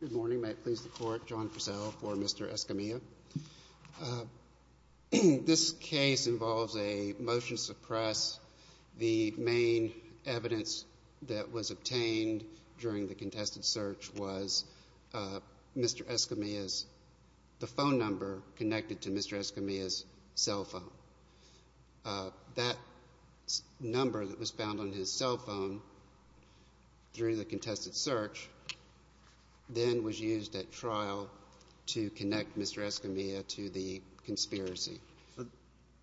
Good morning. May it please the Court, John Purcell for Mr. Escamilla. This case involves a motion to suppress. The main evidence that was obtained during the contested search was Mr. Escamilla's phone number connected to Mr. Escamilla's cell phone. That number that was found on his cell phone during the contested search then was used at trial to connect Mr. Escamilla to the conspiracy.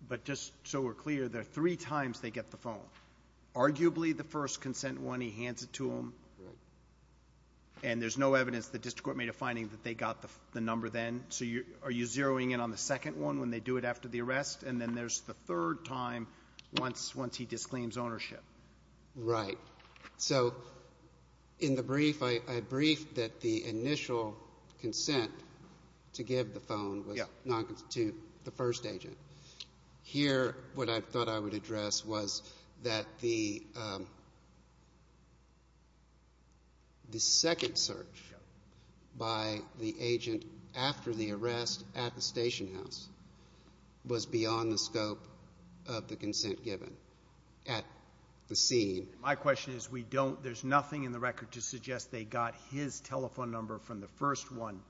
But just so we're clear, there are three times they get the phone. Arguably, the first consent one, he hands it to them. Right. And there's no evidence the district court made a finding that they got the number then. So are you zeroing in on the second one when they do it after the arrest, and then there's the third time once he disclaims ownership? Right. So in the brief, I briefed that the initial consent to give the phone was not to the first agent. Here, what I thought I would address was that the second search by the agent after the arrest at the station house was beyond the scope of the consent given at the scene. My question is there's nothing in the record to suggest they got his telephone number from the first one.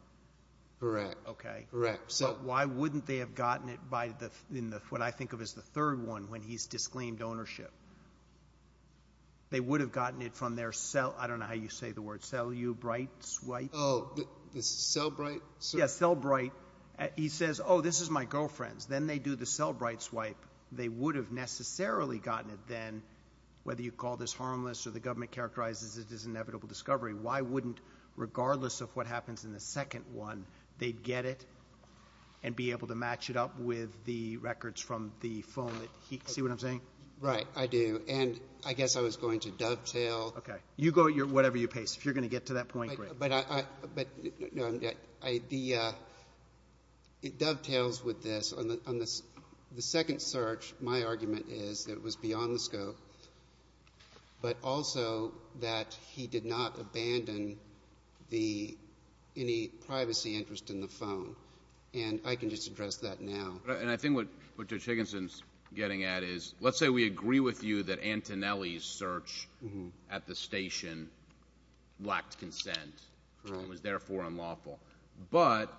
Correct. Okay. Correct. But why wouldn't they have gotten it by what I think of as the third one when he's disclaimed ownership? They would have gotten it from their cell – I don't know how you say the word – cellubrite swipe? Cellbrite? Yeah, cellbrite. He says, oh, this is my girlfriend's. Then they do the cellbrite swipe. They would have necessarily gotten it then, whether you call this harmless or the government characterizes it as inevitable discovery. Why wouldn't, regardless of what happens in the second one, they get it and be able to match it up with the records from the phone that he – see what I'm saying? Right, I do. And I guess I was going to dovetail. Okay. You go at whatever your pace. If you're going to get to that point, great. But the – it dovetails with this. On the second search, my argument is that it was beyond the scope, but also that he did not abandon the – any privacy interest in the phone. And I can just address that now. And I think what Judge Higginson's getting at is, let's say we agree with you that Antonelli's search at the station lacked consent and was therefore unlawful. But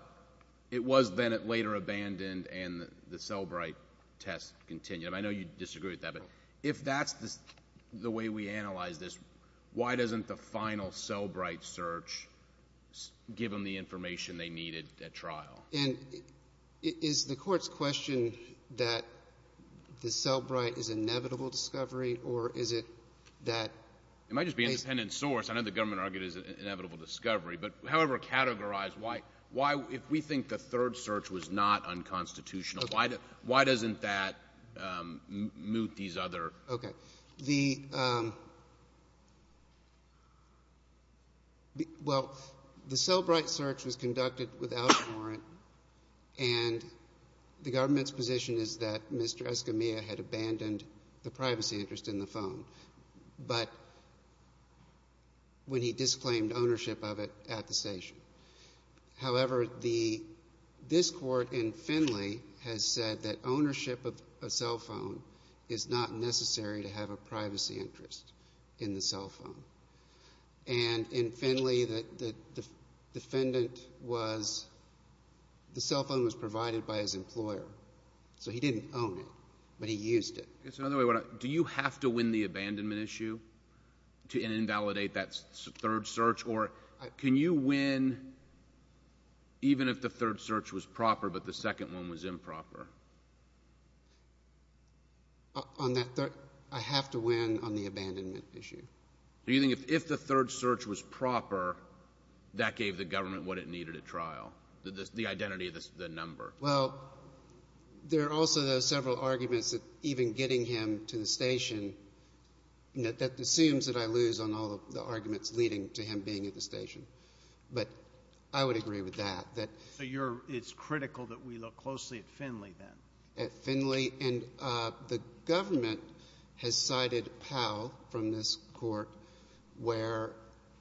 it was then later abandoned and the cellbrite test continued. I know you disagree with that, but if that's the way we analyze this, why doesn't the final cellbrite search give them the information they needed at trial? And is the Court's question that the cellbrite is inevitable discovery, or is it that they – It might just be independent source. I know the government argued it's inevitable discovery. But however categorized, why – if we think the third search was not unconstitutional, why doesn't that moot these other – Okay. The – well, the cellbrite search was conducted without warrant, and the government's position is that Mr. Escamilla had abandoned the privacy interest in the phone, but when he disclaimed ownership of it at the station. However, the – this Court in Finley has said that ownership of a cell phone is not necessary to have a privacy interest in the cell phone. And in Finley, the defendant was – the cell phone was provided by his employer. So he didn't own it, but he used it. Do you have to win the abandonment issue to invalidate that third search? Or can you win even if the third search was proper but the second one was improper? On that third – I have to win on the abandonment issue. Do you think if the third search was proper, that gave the government what it needed at trial, the identity of the number? Well, there are also, though, several arguments that even getting him to the station – that assumes that I lose on all of the arguments leading to him being at the station. But I would agree with that, that – So you're – it's critical that we look closely at Finley then? At Finley. And the government has cited Powell from this Court where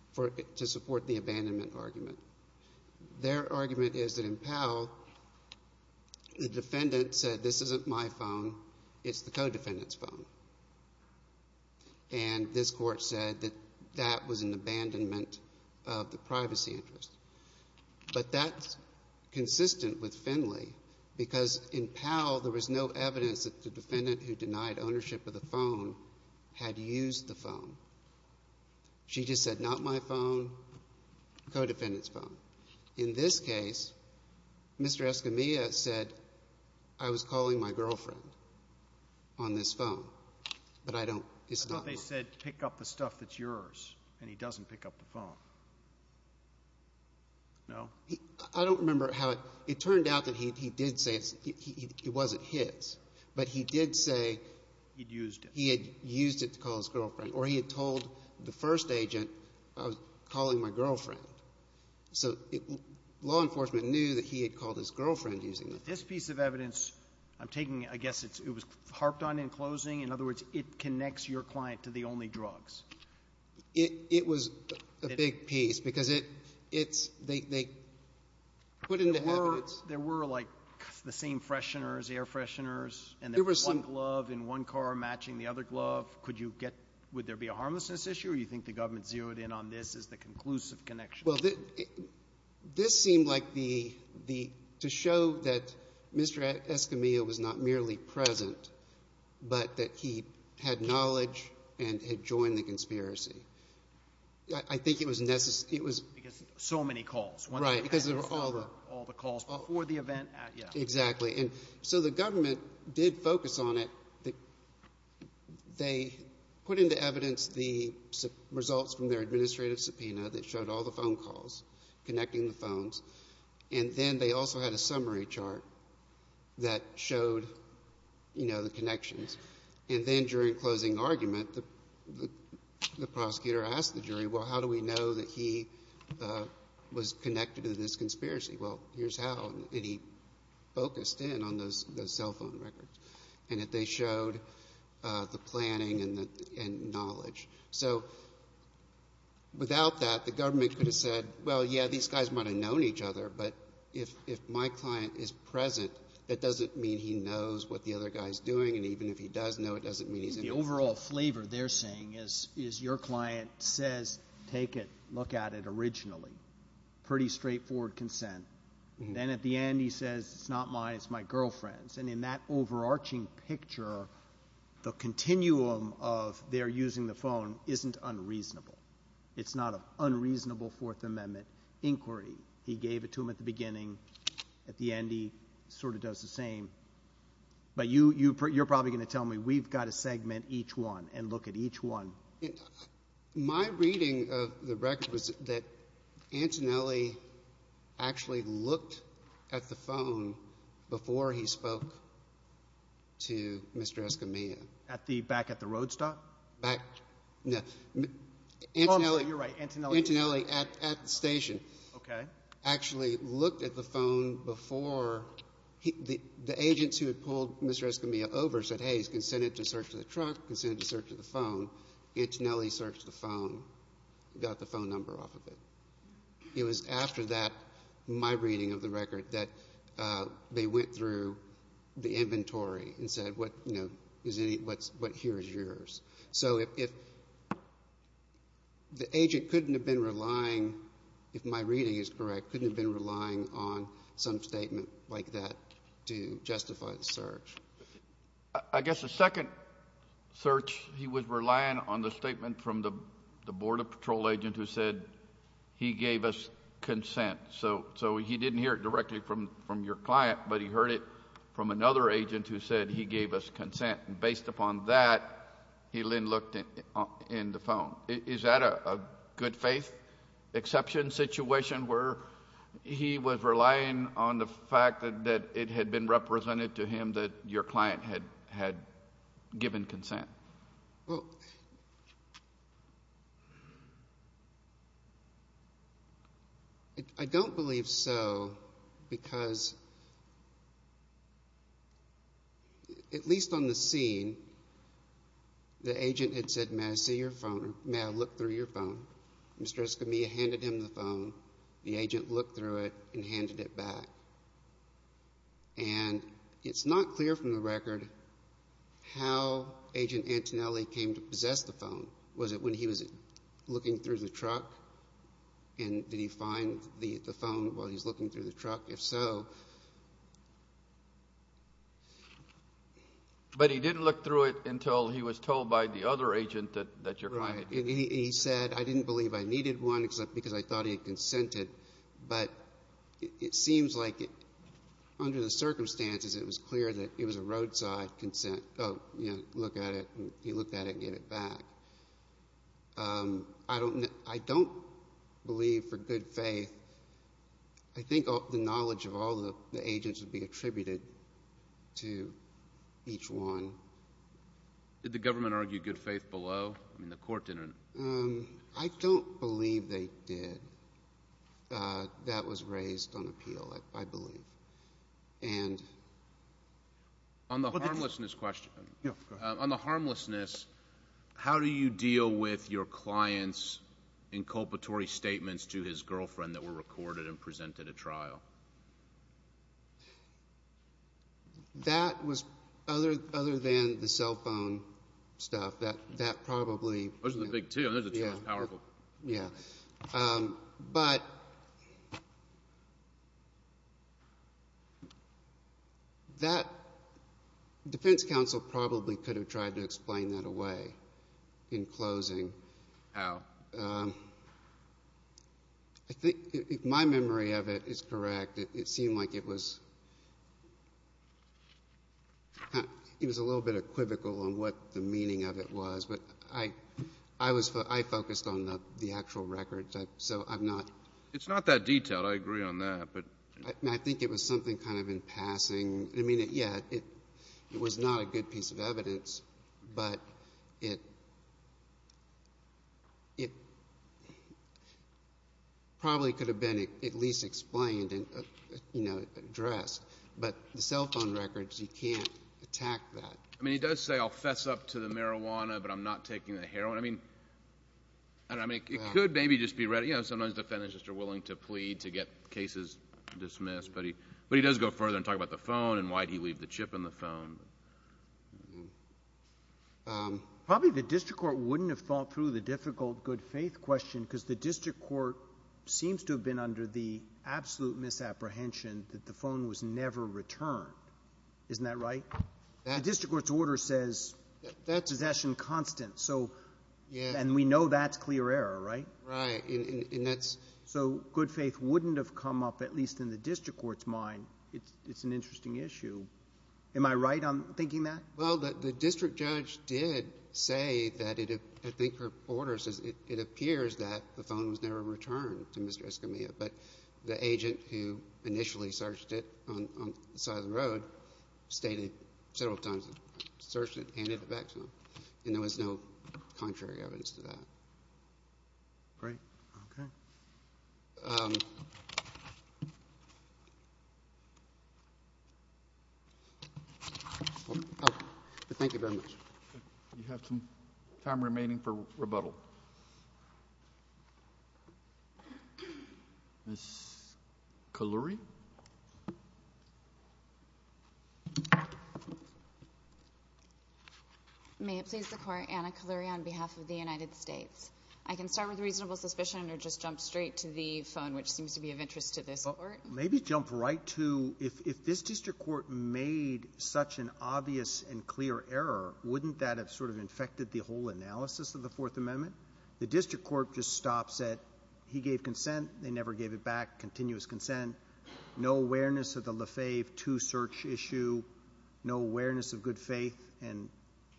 – to support the abandonment argument. Their argument is that in Powell, the defendant said, this isn't my phone, it's the co-defendant's phone. And this Court said that that was an abandonment of the privacy interest. But that's consistent with Finley because in Powell, there was no evidence that the defendant who denied ownership of the phone had used the phone. She just said, not my phone, co-defendant's phone. In this case, Mr. Escamilla said, I was calling my girlfriend on this phone, but I don't – it's not mine. I thought they said, pick up the stuff that's yours, and he doesn't pick up the phone. No? I don't remember how – it turned out that he did say it wasn't his. But he did say – He'd used it. He had used it to call his girlfriend, or he had told the first agent, I was calling my girlfriend. So law enforcement knew that he had called his girlfriend using it. This piece of evidence, I'm taking – I guess it was harped on in closing. In other words, it connects your client to the only drugs. It was a big piece because it's – they put into evidence – There were, like, the same fresheners, air fresheners, and there was one glove in one car matching the other glove. Could you get – would there be a harmlessness issue, or you think the government zeroed in on this as the conclusive connection? Well, this seemed like the – to show that Mr. Escamilla was not merely present, but that he had knowledge and had joined the conspiracy. I think it was necessary – it was – Because so many calls. Right. Because there were all the – All the calls before the event. Yeah. Exactly. And so the government did focus on it. They put into evidence the results from their administrative subpoena that showed all the phone calls connecting the phones, and then they also had a summary chart that showed, you know, the connections. And then during closing argument, the prosecutor asked the jury, well, how do we know that he was connected to this conspiracy? Well, here's how. And he focused in on those cell phone records and that they showed the planning and knowledge. So without that, the government could have said, well, yeah, these guys might have known each other, but if my client is present, that doesn't mean he knows what the other guy is doing, and even if he does know, it doesn't mean he's – The overall flavor they're saying is your client says take it, look at it originally. Pretty straightforward consent. Then at the end he says it's not mine, it's my girlfriend's. And in that overarching picture, the continuum of their using the phone isn't unreasonable. It's not an unreasonable Fourth Amendment inquiry. He gave it to them at the beginning. At the end he sort of does the same. But you're probably going to tell me we've got to segment each one and look at each one. My reading of the record was that Antonelli actually looked at the phone before he spoke to Mr. Escamilla. Back at the road stop? No. You're right, Antonelli. Antonelli at the station actually looked at the phone before – the agents who had pulled Mr. Escamilla over said, hey, he's consented to search the truck, consented to search the phone. Antonelli searched the phone, got the phone number off of it. It was after that, my reading of the record, that they went through the inventory and said what here is yours. So if the agent couldn't have been relying, if my reading is correct, couldn't have been relying on some statement like that to justify the search. I guess the second search he was relying on the statement from the Border Patrol agent who said he gave us consent. So he didn't hear it directly from your client, but he heard it from another agent who said he gave us consent. Based upon that, he then looked in the phone. Is that a good faith exception situation where he was relying on the fact that it had been represented to him that your client had given consent? I don't believe so because at least on the scene, the agent had said, may I see your phone, may I look through your phone. Mr. Escamilla handed him the phone. The agent looked through it and handed it back. And it's not clear from the record how Agent Antonelli came to possess the phone. Was it when he was looking through the truck? And did he find the phone while he was looking through the truck? If so. But he didn't look through it until he was told by the other agent that your client had given consent. He said, I didn't believe I needed one because I thought he had consented. But it seems like under the circumstances, it was clear that it was a roadside consent. Oh, you know, look at it. He looked at it and gave it back. I don't believe for good faith. I think the knowledge of all the agents would be attributed to each one. Did the government argue good faith below? I mean, the court didn't. I don't believe they did. That was raised on appeal, I believe. On the harmlessness question, on the harmlessness, how do you deal with your client's inculpatory statements to his girlfriend that were recorded and presented at trial? That was other than the cell phone stuff. That probably. Those are the big two. Those are the two most powerful. Yeah. But that defense counsel probably could have tried to explain that away in closing. How? I think if my memory of it is correct, it seemed like it was a little bit equivocal on what the meaning of it was. But I focused on the actual records. So I'm not. It's not that detailed. I agree on that. I think it was something kind of in passing. I mean, yeah, it was not a good piece of evidence, but it probably could have been at least explained and addressed. But the cell phone records, you can't attack that. I mean, he does say, I'll fess up to the marijuana, but I'm not taking the heroin. I mean, it could maybe just be ready. You know, sometimes defendants just are willing to plead to get cases dismissed. But he does go further and talk about the phone and why he'd leave the chip in the phone. Probably the district court wouldn't have thought through the difficult good faith question because the district court seems to have been under the absolute misapprehension that the phone was never returned. Isn't that right? The district court's order says possession constant. And we know that's clear error, right? Right. So good faith wouldn't have come up, at least in the district court's mind. It's an interesting issue. Am I right on thinking that? Well, the district judge did say that I think her order says it appears that the phone was never returned to Mr. Escamilla. But the agent who initially searched it on the side of the road stated several times, searched it, handed it back to him. And there was no contrary evidence to that. Great. Okay. Thank you very much. You have some time remaining for rebuttal. Ms. Kalluri. Ms. Kalluri. May it please the Court, Anna Kalluri on behalf of the United States. I can start with reasonable suspicion or just jump straight to the phone, which seems to be of interest to this Court. Maybe jump right to if this district court made such an obvious and clear error, wouldn't that have sort of infected the whole analysis of the Fourth Amendment? The district court just stops at he gave consent, they never gave it back, continuous consent, no awareness of the Lefebvre II search issue, no awareness of good faith. And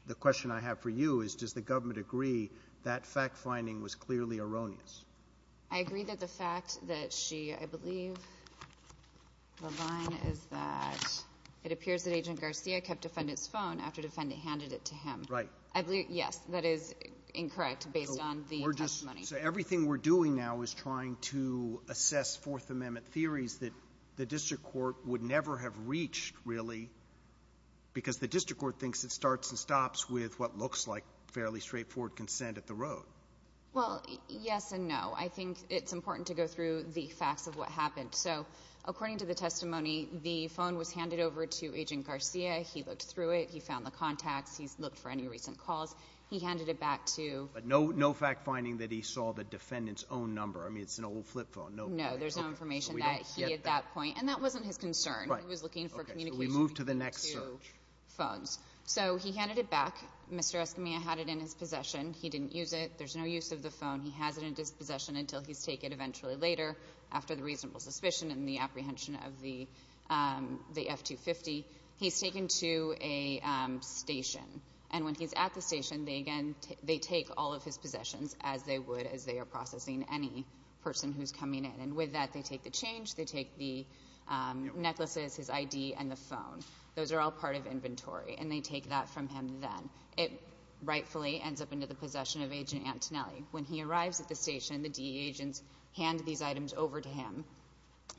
the question I have for you is, does the government agree that fact-finding was clearly erroneous? I agree that the fact that she, I believe, the line is that it appears that Agent Garcia kept defendant's phone after defendant handed it to him. Right. I believe, yes, that is incorrect based on the testimony. So we're just, so everything we're doing now is trying to assess Fourth Amendment theories that the district court would never have reached, really, because the district court thinks it starts and stops with what looks like fairly straightforward consent at the road. Well, yes and no. I think it's important to go through the facts of what happened. So according to the testimony, the phone was handed over to Agent Garcia. He looked through it. He found the contacts. He's looked for any recent calls. He handed it back to — But no fact-finding that he saw the defendant's own number. I mean, it's an old flip phone. No. Okay. So we don't get that. No. There's no information that he, at that point — and that wasn't his concern. Right. Okay. So we move to the next search. He was looking for communication between the two phones. So he handed it back. Mr. Escamilla had it in his possession. He didn't use it. There's no use of the phone. He has it in his possession until he's taken eventually later, after the reasonable suspicion and the apprehension of the F-250. He's taken to a station. And when he's at the station, they, again, they take all of his possessions as they would as they are processing any person who's coming in. And with that, they take the change. They take the necklaces, his ID, and the phone. Those are all part of inventory. And they take that from him then. It rightfully ends up into the possession of Agent Antonelli. When he arrives at the station, the DE agents hand these items over to him.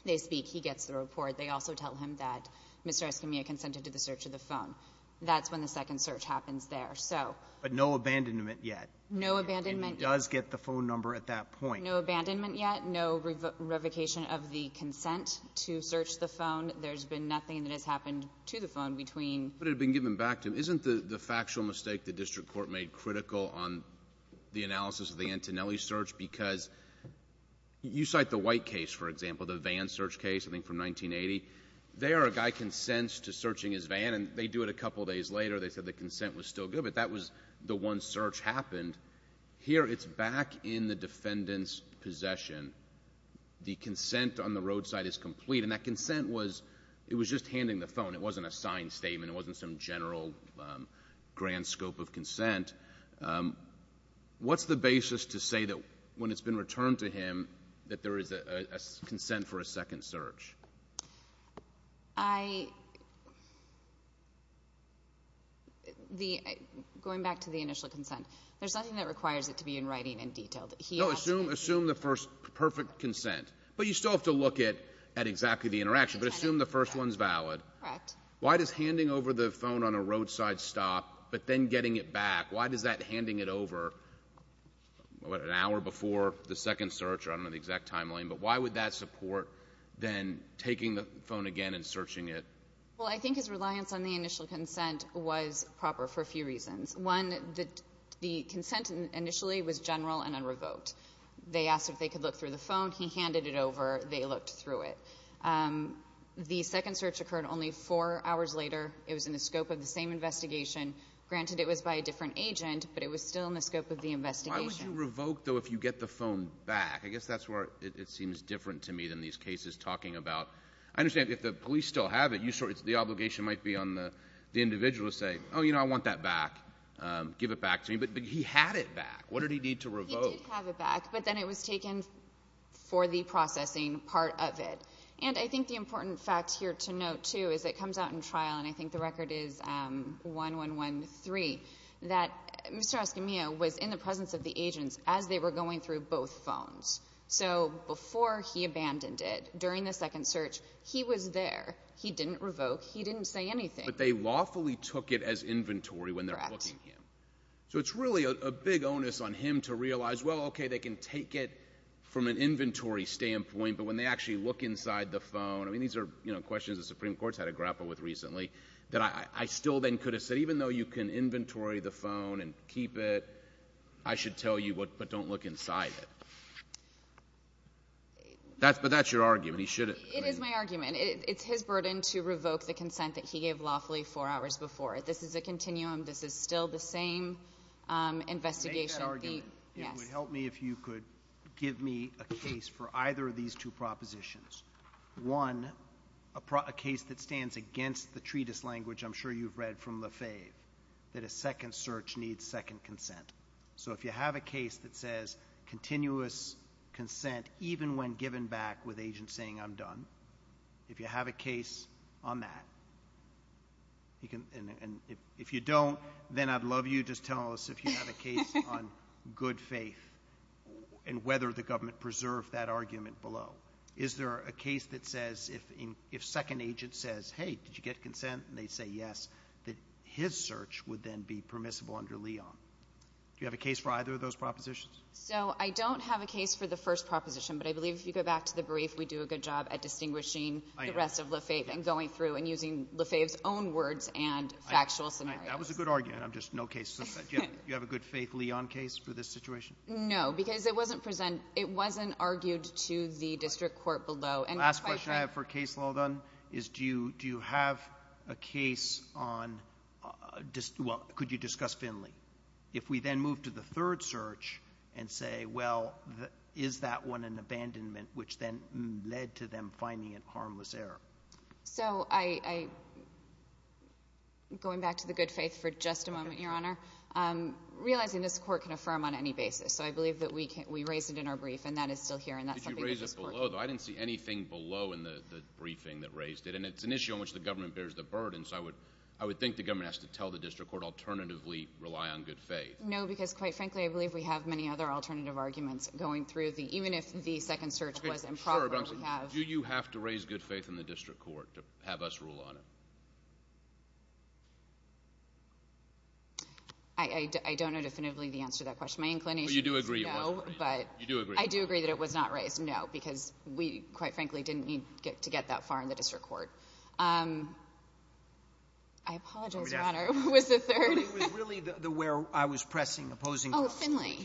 They speak. He gets the report. They also tell him that Mr. Escamilla consented to the search of the phone. That's when the second search happens there. So — But no abandonment yet. No abandonment yet. And he does get the phone number at that point. No abandonment yet. No revocation of the consent to search the phone. There's been nothing that has happened to the phone between — But it had been given back to him. Isn't the factual mistake the district court made critical on the analysis of the Antonelli search? Because you cite the White case, for example, the van search case, I think from 1980. There, a guy consents to searching his van. And they do it a couple days later. They said the consent was still good. But that was the one search happened. Here, it's back in the defendant's possession. The consent on the roadside is complete. And that consent was just handing the phone. It wasn't a signed statement. It wasn't some general grand scope of consent. What's the basis to say that when it's been returned to him that there is a consent for a second search? Going back to the initial consent, there's nothing that requires it to be in writing and detailed. No, assume the first perfect consent. But you still have to look at exactly the interaction. But assume the first one's valid. Correct. Why does handing over the phone on a roadside stop, but then getting it back, why does that handing it over an hour before the second search, or I don't know the exact timeline, but why would that support then taking the phone again and searching it? Well, I think his reliance on the initial consent was proper for a few reasons. One, the consent initially was general and unrevoked. They asked if they could look through the phone. He handed it over. They looked through it. The second search occurred only four hours later. It was in the scope of the same investigation. Granted, it was by a different agent, but it was still in the scope of the investigation. Why would you revoke, though, if you get the phone back? I guess that's where it seems different to me than these cases talking about. I understand if the police still have it, the obligation might be on the individual to say, oh, you know, I want that back. Give it back to me. But he had it back. What did he need to revoke? He did have it back. But then it was taken for the processing part of it. And I think the important fact here to note, too, is it comes out in trial, and I think the record is 1113, that Mr. Escamillo was in the presence of the agents as they were going through both phones. So before he abandoned it, during the second search, he was there. He didn't revoke. He didn't say anything. But they lawfully took it as inventory when they're booking him. So it's really a big onus on him to realize, well, okay, they can take it from an inventory standpoint, but when they actually look inside the phone, I mean, these are, you know, questions the Supreme Court's had to grapple with recently that I still then could have said, even though you can inventory the phone and keep it, I should tell you, but don't look inside it. But that's your argument. He shouldn't. It is my argument. It's his burden to revoke the consent that he gave lawfully four hours before. This is a continuum. This is still the same investigation. Make that argument. It would help me if you could give me a case for either of these two propositions. One, a case that stands against the treatise language I'm sure you've read from Lefebvre, that a second search needs second consent. So if you have a case that says continuous consent even when given back with agents saying I'm done, if you have a case on that, and if you don't, then I'd love you to tell us if you have a case on good faith and whether the government preserved that argument below. Is there a case that says if second agent says, hey, did you get consent, and they say yes, that his search would then be permissible under Leon? Do you have a case for either of those propositions? So I don't have a case for the first proposition, but I believe if you go back to the brief we do a good job at distinguishing the rest of Lefebvre and going through and using Lefebvre's own words and factual scenarios. That was a good argument. I'm just no case. Do you have a good faith Leon case for this situation? No, because it wasn't argued to the district court below. The last question I have for Case Laudan is do you have a case on, well, could you discuss Finley? If we then move to the third search and say, well, is that one an abandonment, which then led to them finding it harmless error? So I'm going back to the good faith for just a moment, Your Honor. Realizing this court can affirm on any basis, so I believe that we raised it in our brief, and that is still here, and that's something that this court can affirm. Did you raise it below, though? I didn't see anything below in the briefing that raised it, and it's an issue on which the government bears the burden, so I would think the government has to tell the district court alternatively rely on good faith. No, because, quite frankly, I believe we have many other alternative arguments going through, even if the second search was improper. Do you have to raise good faith in the district court to have us rule on it? I don't know definitively the answer to that question. My inclination is no, but I do agree that it was not raised, no, because we, quite frankly, didn't need to get that far in the district court. I apologize, Your Honor. Who was the third? It was really where I was pressing, opposing. Oh, Finley.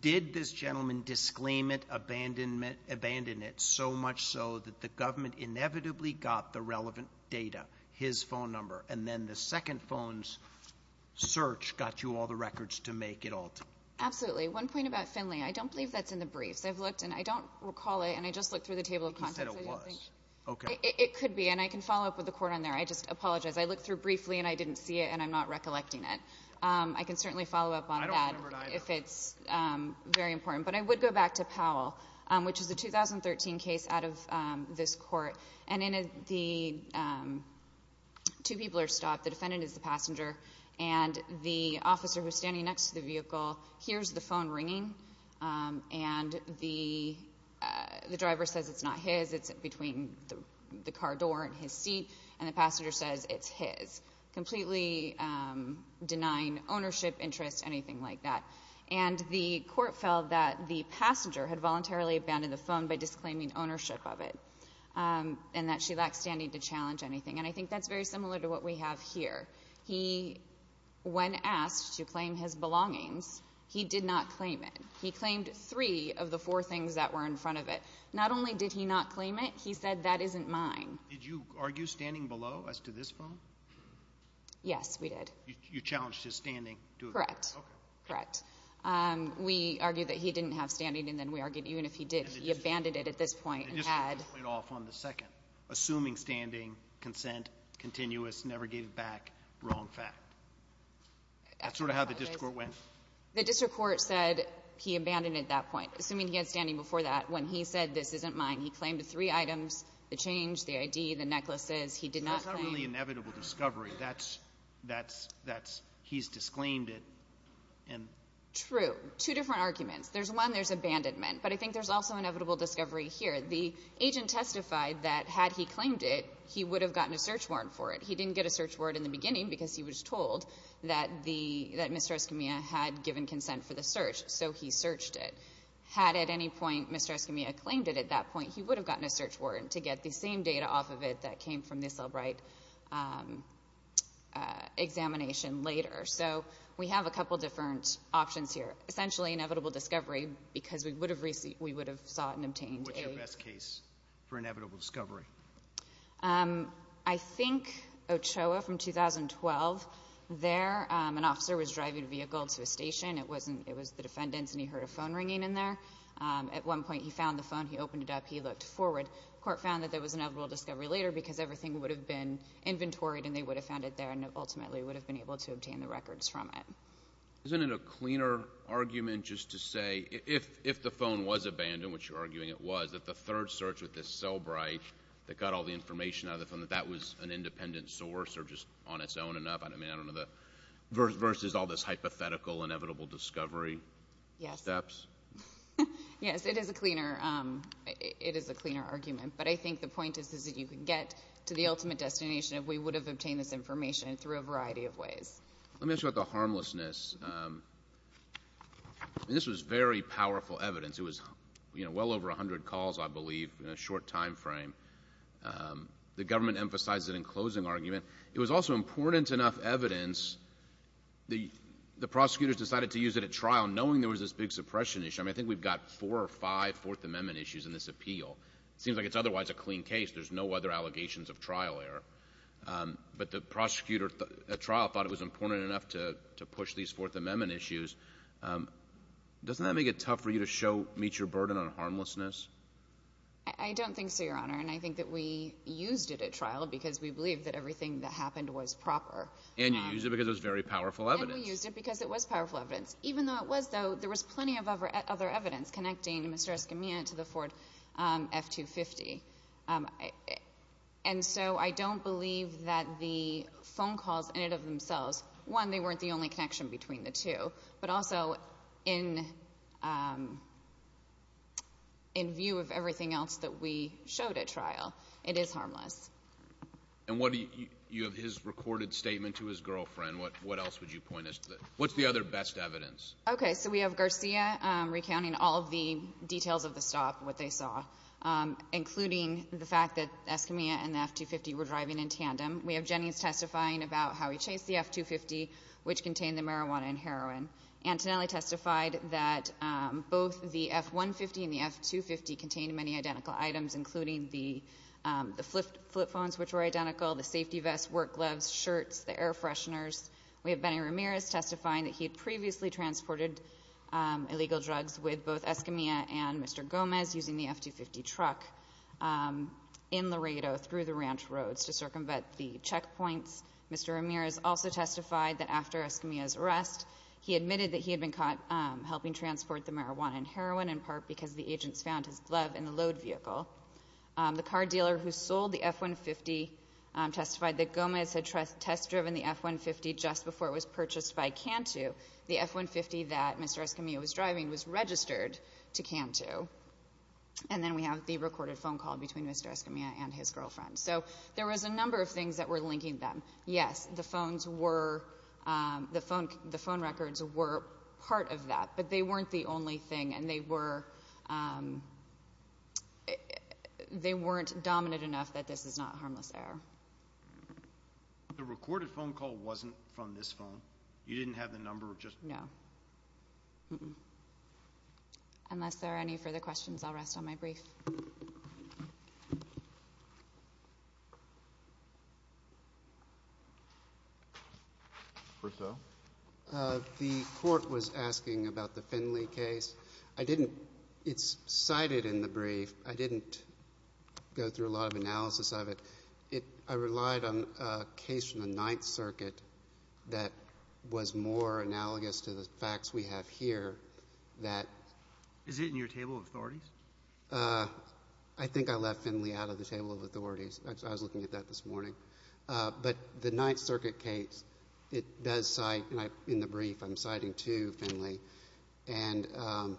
Did this gentleman disclaim it, abandon it, so much so that the government inevitably got the relevant data, his phone number, and then the second phone's search got you all the records to make it alternate? Absolutely. One point about Finley, I don't believe that's in the briefs. I've looked, and I don't recall it, and I just looked through the table of contents. He said it was. It could be, and I can follow up with the court on there. I just apologize. I looked through briefly, and I didn't see it, and I'm not recollecting it. I can certainly follow up on that if it's very important. But I would go back to Powell, which is a 2013 case out of this court, and two people are stopped, the defendant is the passenger, and the officer who's standing next to the vehicle hears the phone ringing, and the driver says it's not his, it's between the car door and his seat, and the passenger says it's his, completely denying ownership, interest, anything like that. And the court felt that the passenger had voluntarily abandoned the phone by disclaiming ownership of it, and that she lacked standing to challenge anything. And I think that's very similar to what we have here. He, when asked to claim his belongings, he did not claim it. He claimed three of the four things that were in front of it. Not only did he not claim it, he said, that isn't mine. Did you argue standing below as to this phone? Yes, we did. You challenged his standing to it? Correct. Okay. Correct. We argued that he didn't have standing, and then we argued even if he did, he abandoned it at this point. The district court went off on the second, assuming standing, consent, continuous, never gave back, wrong fact. That's sort of how the district court went. The district court said he abandoned it at that point, assuming he had standing before that. When he said, this isn't mine, he claimed three items, the change, the ID, the necklaces. He did not claim. That's not really inevitable discovery. That's he's disclaimed it. True. Two different arguments. There's one, there's abandonment. But I think there's also inevitable discovery here. The agent testified that had he claimed it, he would have gotten a search warrant for it. He didn't get a search warrant in the beginning because he was told that Mr. Escamilla had given consent for the search, so he searched it. Had at any point Mr. Escamilla claimed it at that point, he would have gotten a search warrant to get the same data off of it that came from this Elbright examination later. So we have a couple different options here. Essentially, inevitable discovery because we would have sought and obtained a What's your best case for inevitable discovery? I think Ochoa from 2012. There, an officer was driving a vehicle to a station. It was the defendant's, and he heard a phone ringing in there. At one point, he found the phone. He opened it up. He looked forward. Court found that there was inevitable discovery later because everything would have been inventoried, and they would have found it there, and ultimately would have been able to obtain the records from it. Isn't it a cleaner argument just to say if the phone was abandoned, which you're arguing it was, that the third search with this Elbright that got all the information out of the phone, that that was an independent source or just on its own enough versus all this hypothetical inevitable discovery steps? Yes. Yes, it is a cleaner argument, but I think the point is that you can get to the ultimate destination if we would have obtained this information through a variety of ways. Let me ask you about the harmlessness. This was very powerful evidence. It was well over 100 calls, I believe, in a short time frame. The government emphasizes it in closing argument. It was also important enough evidence the prosecutors decided to use it at trial, knowing there was this big suppression issue. I mean, I think we've got four or five Fourth Amendment issues in this appeal. It seems like it's otherwise a clean case. There's no other allegations of trial error. But the prosecutor at trial thought it was important enough to push these Fourth Amendment issues. Doesn't that make it tough for you to show meets your burden on harmlessness? I don't think so, Your Honor, and I think that we used it at trial because we believe that everything that happened was proper. And you used it because it was very powerful evidence. And we used it because it was powerful evidence. Even though it was, though, there was plenty of other evidence connecting Mr. Escamilla to the Ford F-250. And so I don't believe that the phone calls ended up themselves. One, they weren't the only connection between the two. But also, in view of everything else that we showed at trial, it is harmless. And you have his recorded statement to his girlfriend. What else would you point us to? What's the other best evidence? Okay, so we have Garcia recounting all of the details of the stop, what they saw, including the fact that Escamilla and the F-250 were driving in tandem. We have Jennings testifying about how he chased the F-250, which contained the marijuana and heroin. Antonelli testified that both the F-150 and the F-250 contained many identical items, including the flip phones, which were identical, the safety vest, work gloves, shirts, the air fresheners. We have Benny Ramirez testifying that he had previously transported illegal drugs with both Escamilla and Mr. Gomez using the F-250 truck in Laredo through the ranch roads to circumvent the checkpoints. Mr. Ramirez also testified that after Escamilla's arrest, he admitted that he had been caught helping transport the marijuana and heroin, in part because the agents found his glove in the load vehicle. The car dealer who sold the F-150 testified that Gomez had test-driven the F-150 just before it was purchased by Cantu. The F-150 that Mr. Escamilla was driving was registered to Cantu. And then we have the recorded phone call between Mr. Escamilla and his girlfriend. So there was a number of things that were linking them. Yes, the phone records were part of that, but they weren't the only thing, and they weren't dominant enough that this is not harmless error. The recorded phone call wasn't from this phone? You didn't have the number? No. Unless there are any further questions, I'll rest on my brief. First off. The Court was asking about the Finley case. I didn't — it's cited in the brief. I didn't go through a lot of analysis of it. I relied on a case from the Ninth Circuit that was more analogous to the facts we have here that — Is it in your table of authorities? I think I left Finley out of the table of authorities. I was looking at that this morning. But the Ninth Circuit case, it does cite, and in the brief I'm citing too, Finley. But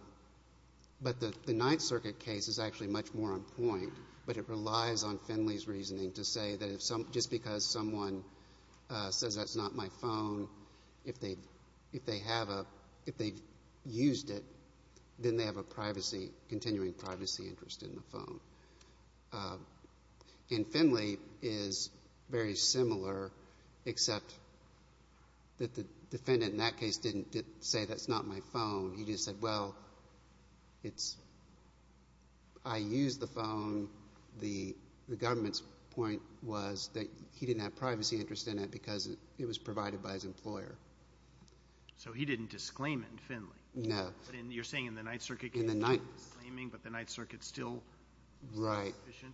the Ninth Circuit case is actually much more on point, but it relies on Finley's reasoning to say that just because someone says, that's not my phone, if they have a — if they've used it, then they have a privacy — continuing privacy interest in the phone. And Finley is very similar, except that the defendant in that case didn't say, that's not my phone. He just said, well, it's — I used the phone. The government's point was that he didn't have privacy interest in it because it was provided by his employer. So he didn't disclaim it in Finley? No. You're saying in the Ninth Circuit case he was claiming, but the Ninth Circuit's still sufficient?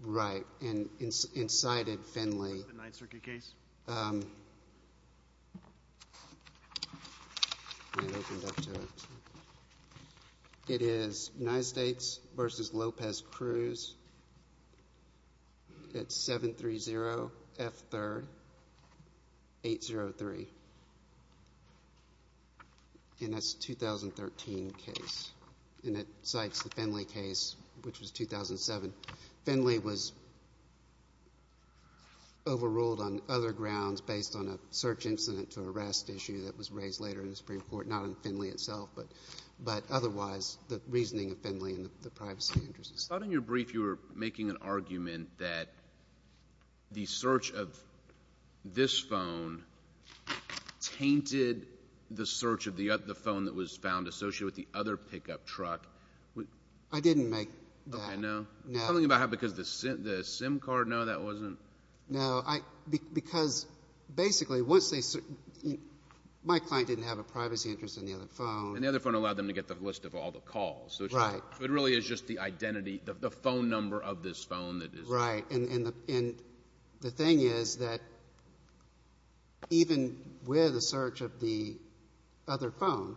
Right. Right. And cited Finley. What's the Ninth Circuit case? It is United States v. Lopez Cruz at 730 F. 3rd, 803. And that's a 2013 case. And it cites the Finley case, which was 2007. Finley was overruled on other grounds based on a search incident to arrest issue that was raised later in the Supreme Court, not on Finley itself, but otherwise the reasoning of Finley and the privacy interest. I thought in your brief you were making an argument that the search of this phone tainted the search of the phone that was found associated with the other pickup truck. I didn't make that. Okay. No? No. Something about how because the SIM card, no, that wasn't? No. Because basically once they — my client didn't have a privacy interest in the other phone. And the other phone allowed them to get the list of all the calls. Right. So it really is just the identity, the phone number of this phone that is? Right. And the thing is that even with a search of the other phone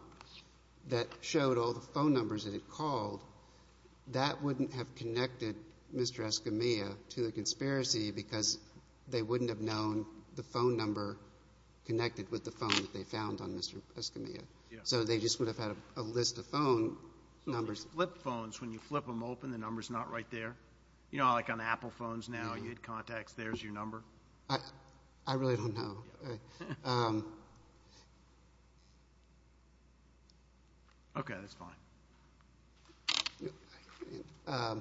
that showed all the phone numbers that it called, that wouldn't have connected Mr. Escamilla to the conspiracy because they wouldn't have known the phone number connected with the phone that they found on Mr. Escamilla. Yes. So they just would have had a list of phone numbers. Do you notice flip phones, when you flip them open, the number's not right there? You know, like on Apple phones now, you hit contacts, there's your number? I really don't know. Okay. That's fine.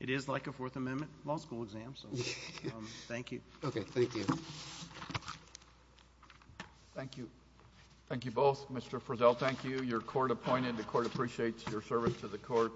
It is like a Fourth Amendment law school exam, so thank you. Okay. Thank you. Thank you. Thank you both. Mr. Frizzell, thank you. You're court-appointed. The court appreciates your service to the court.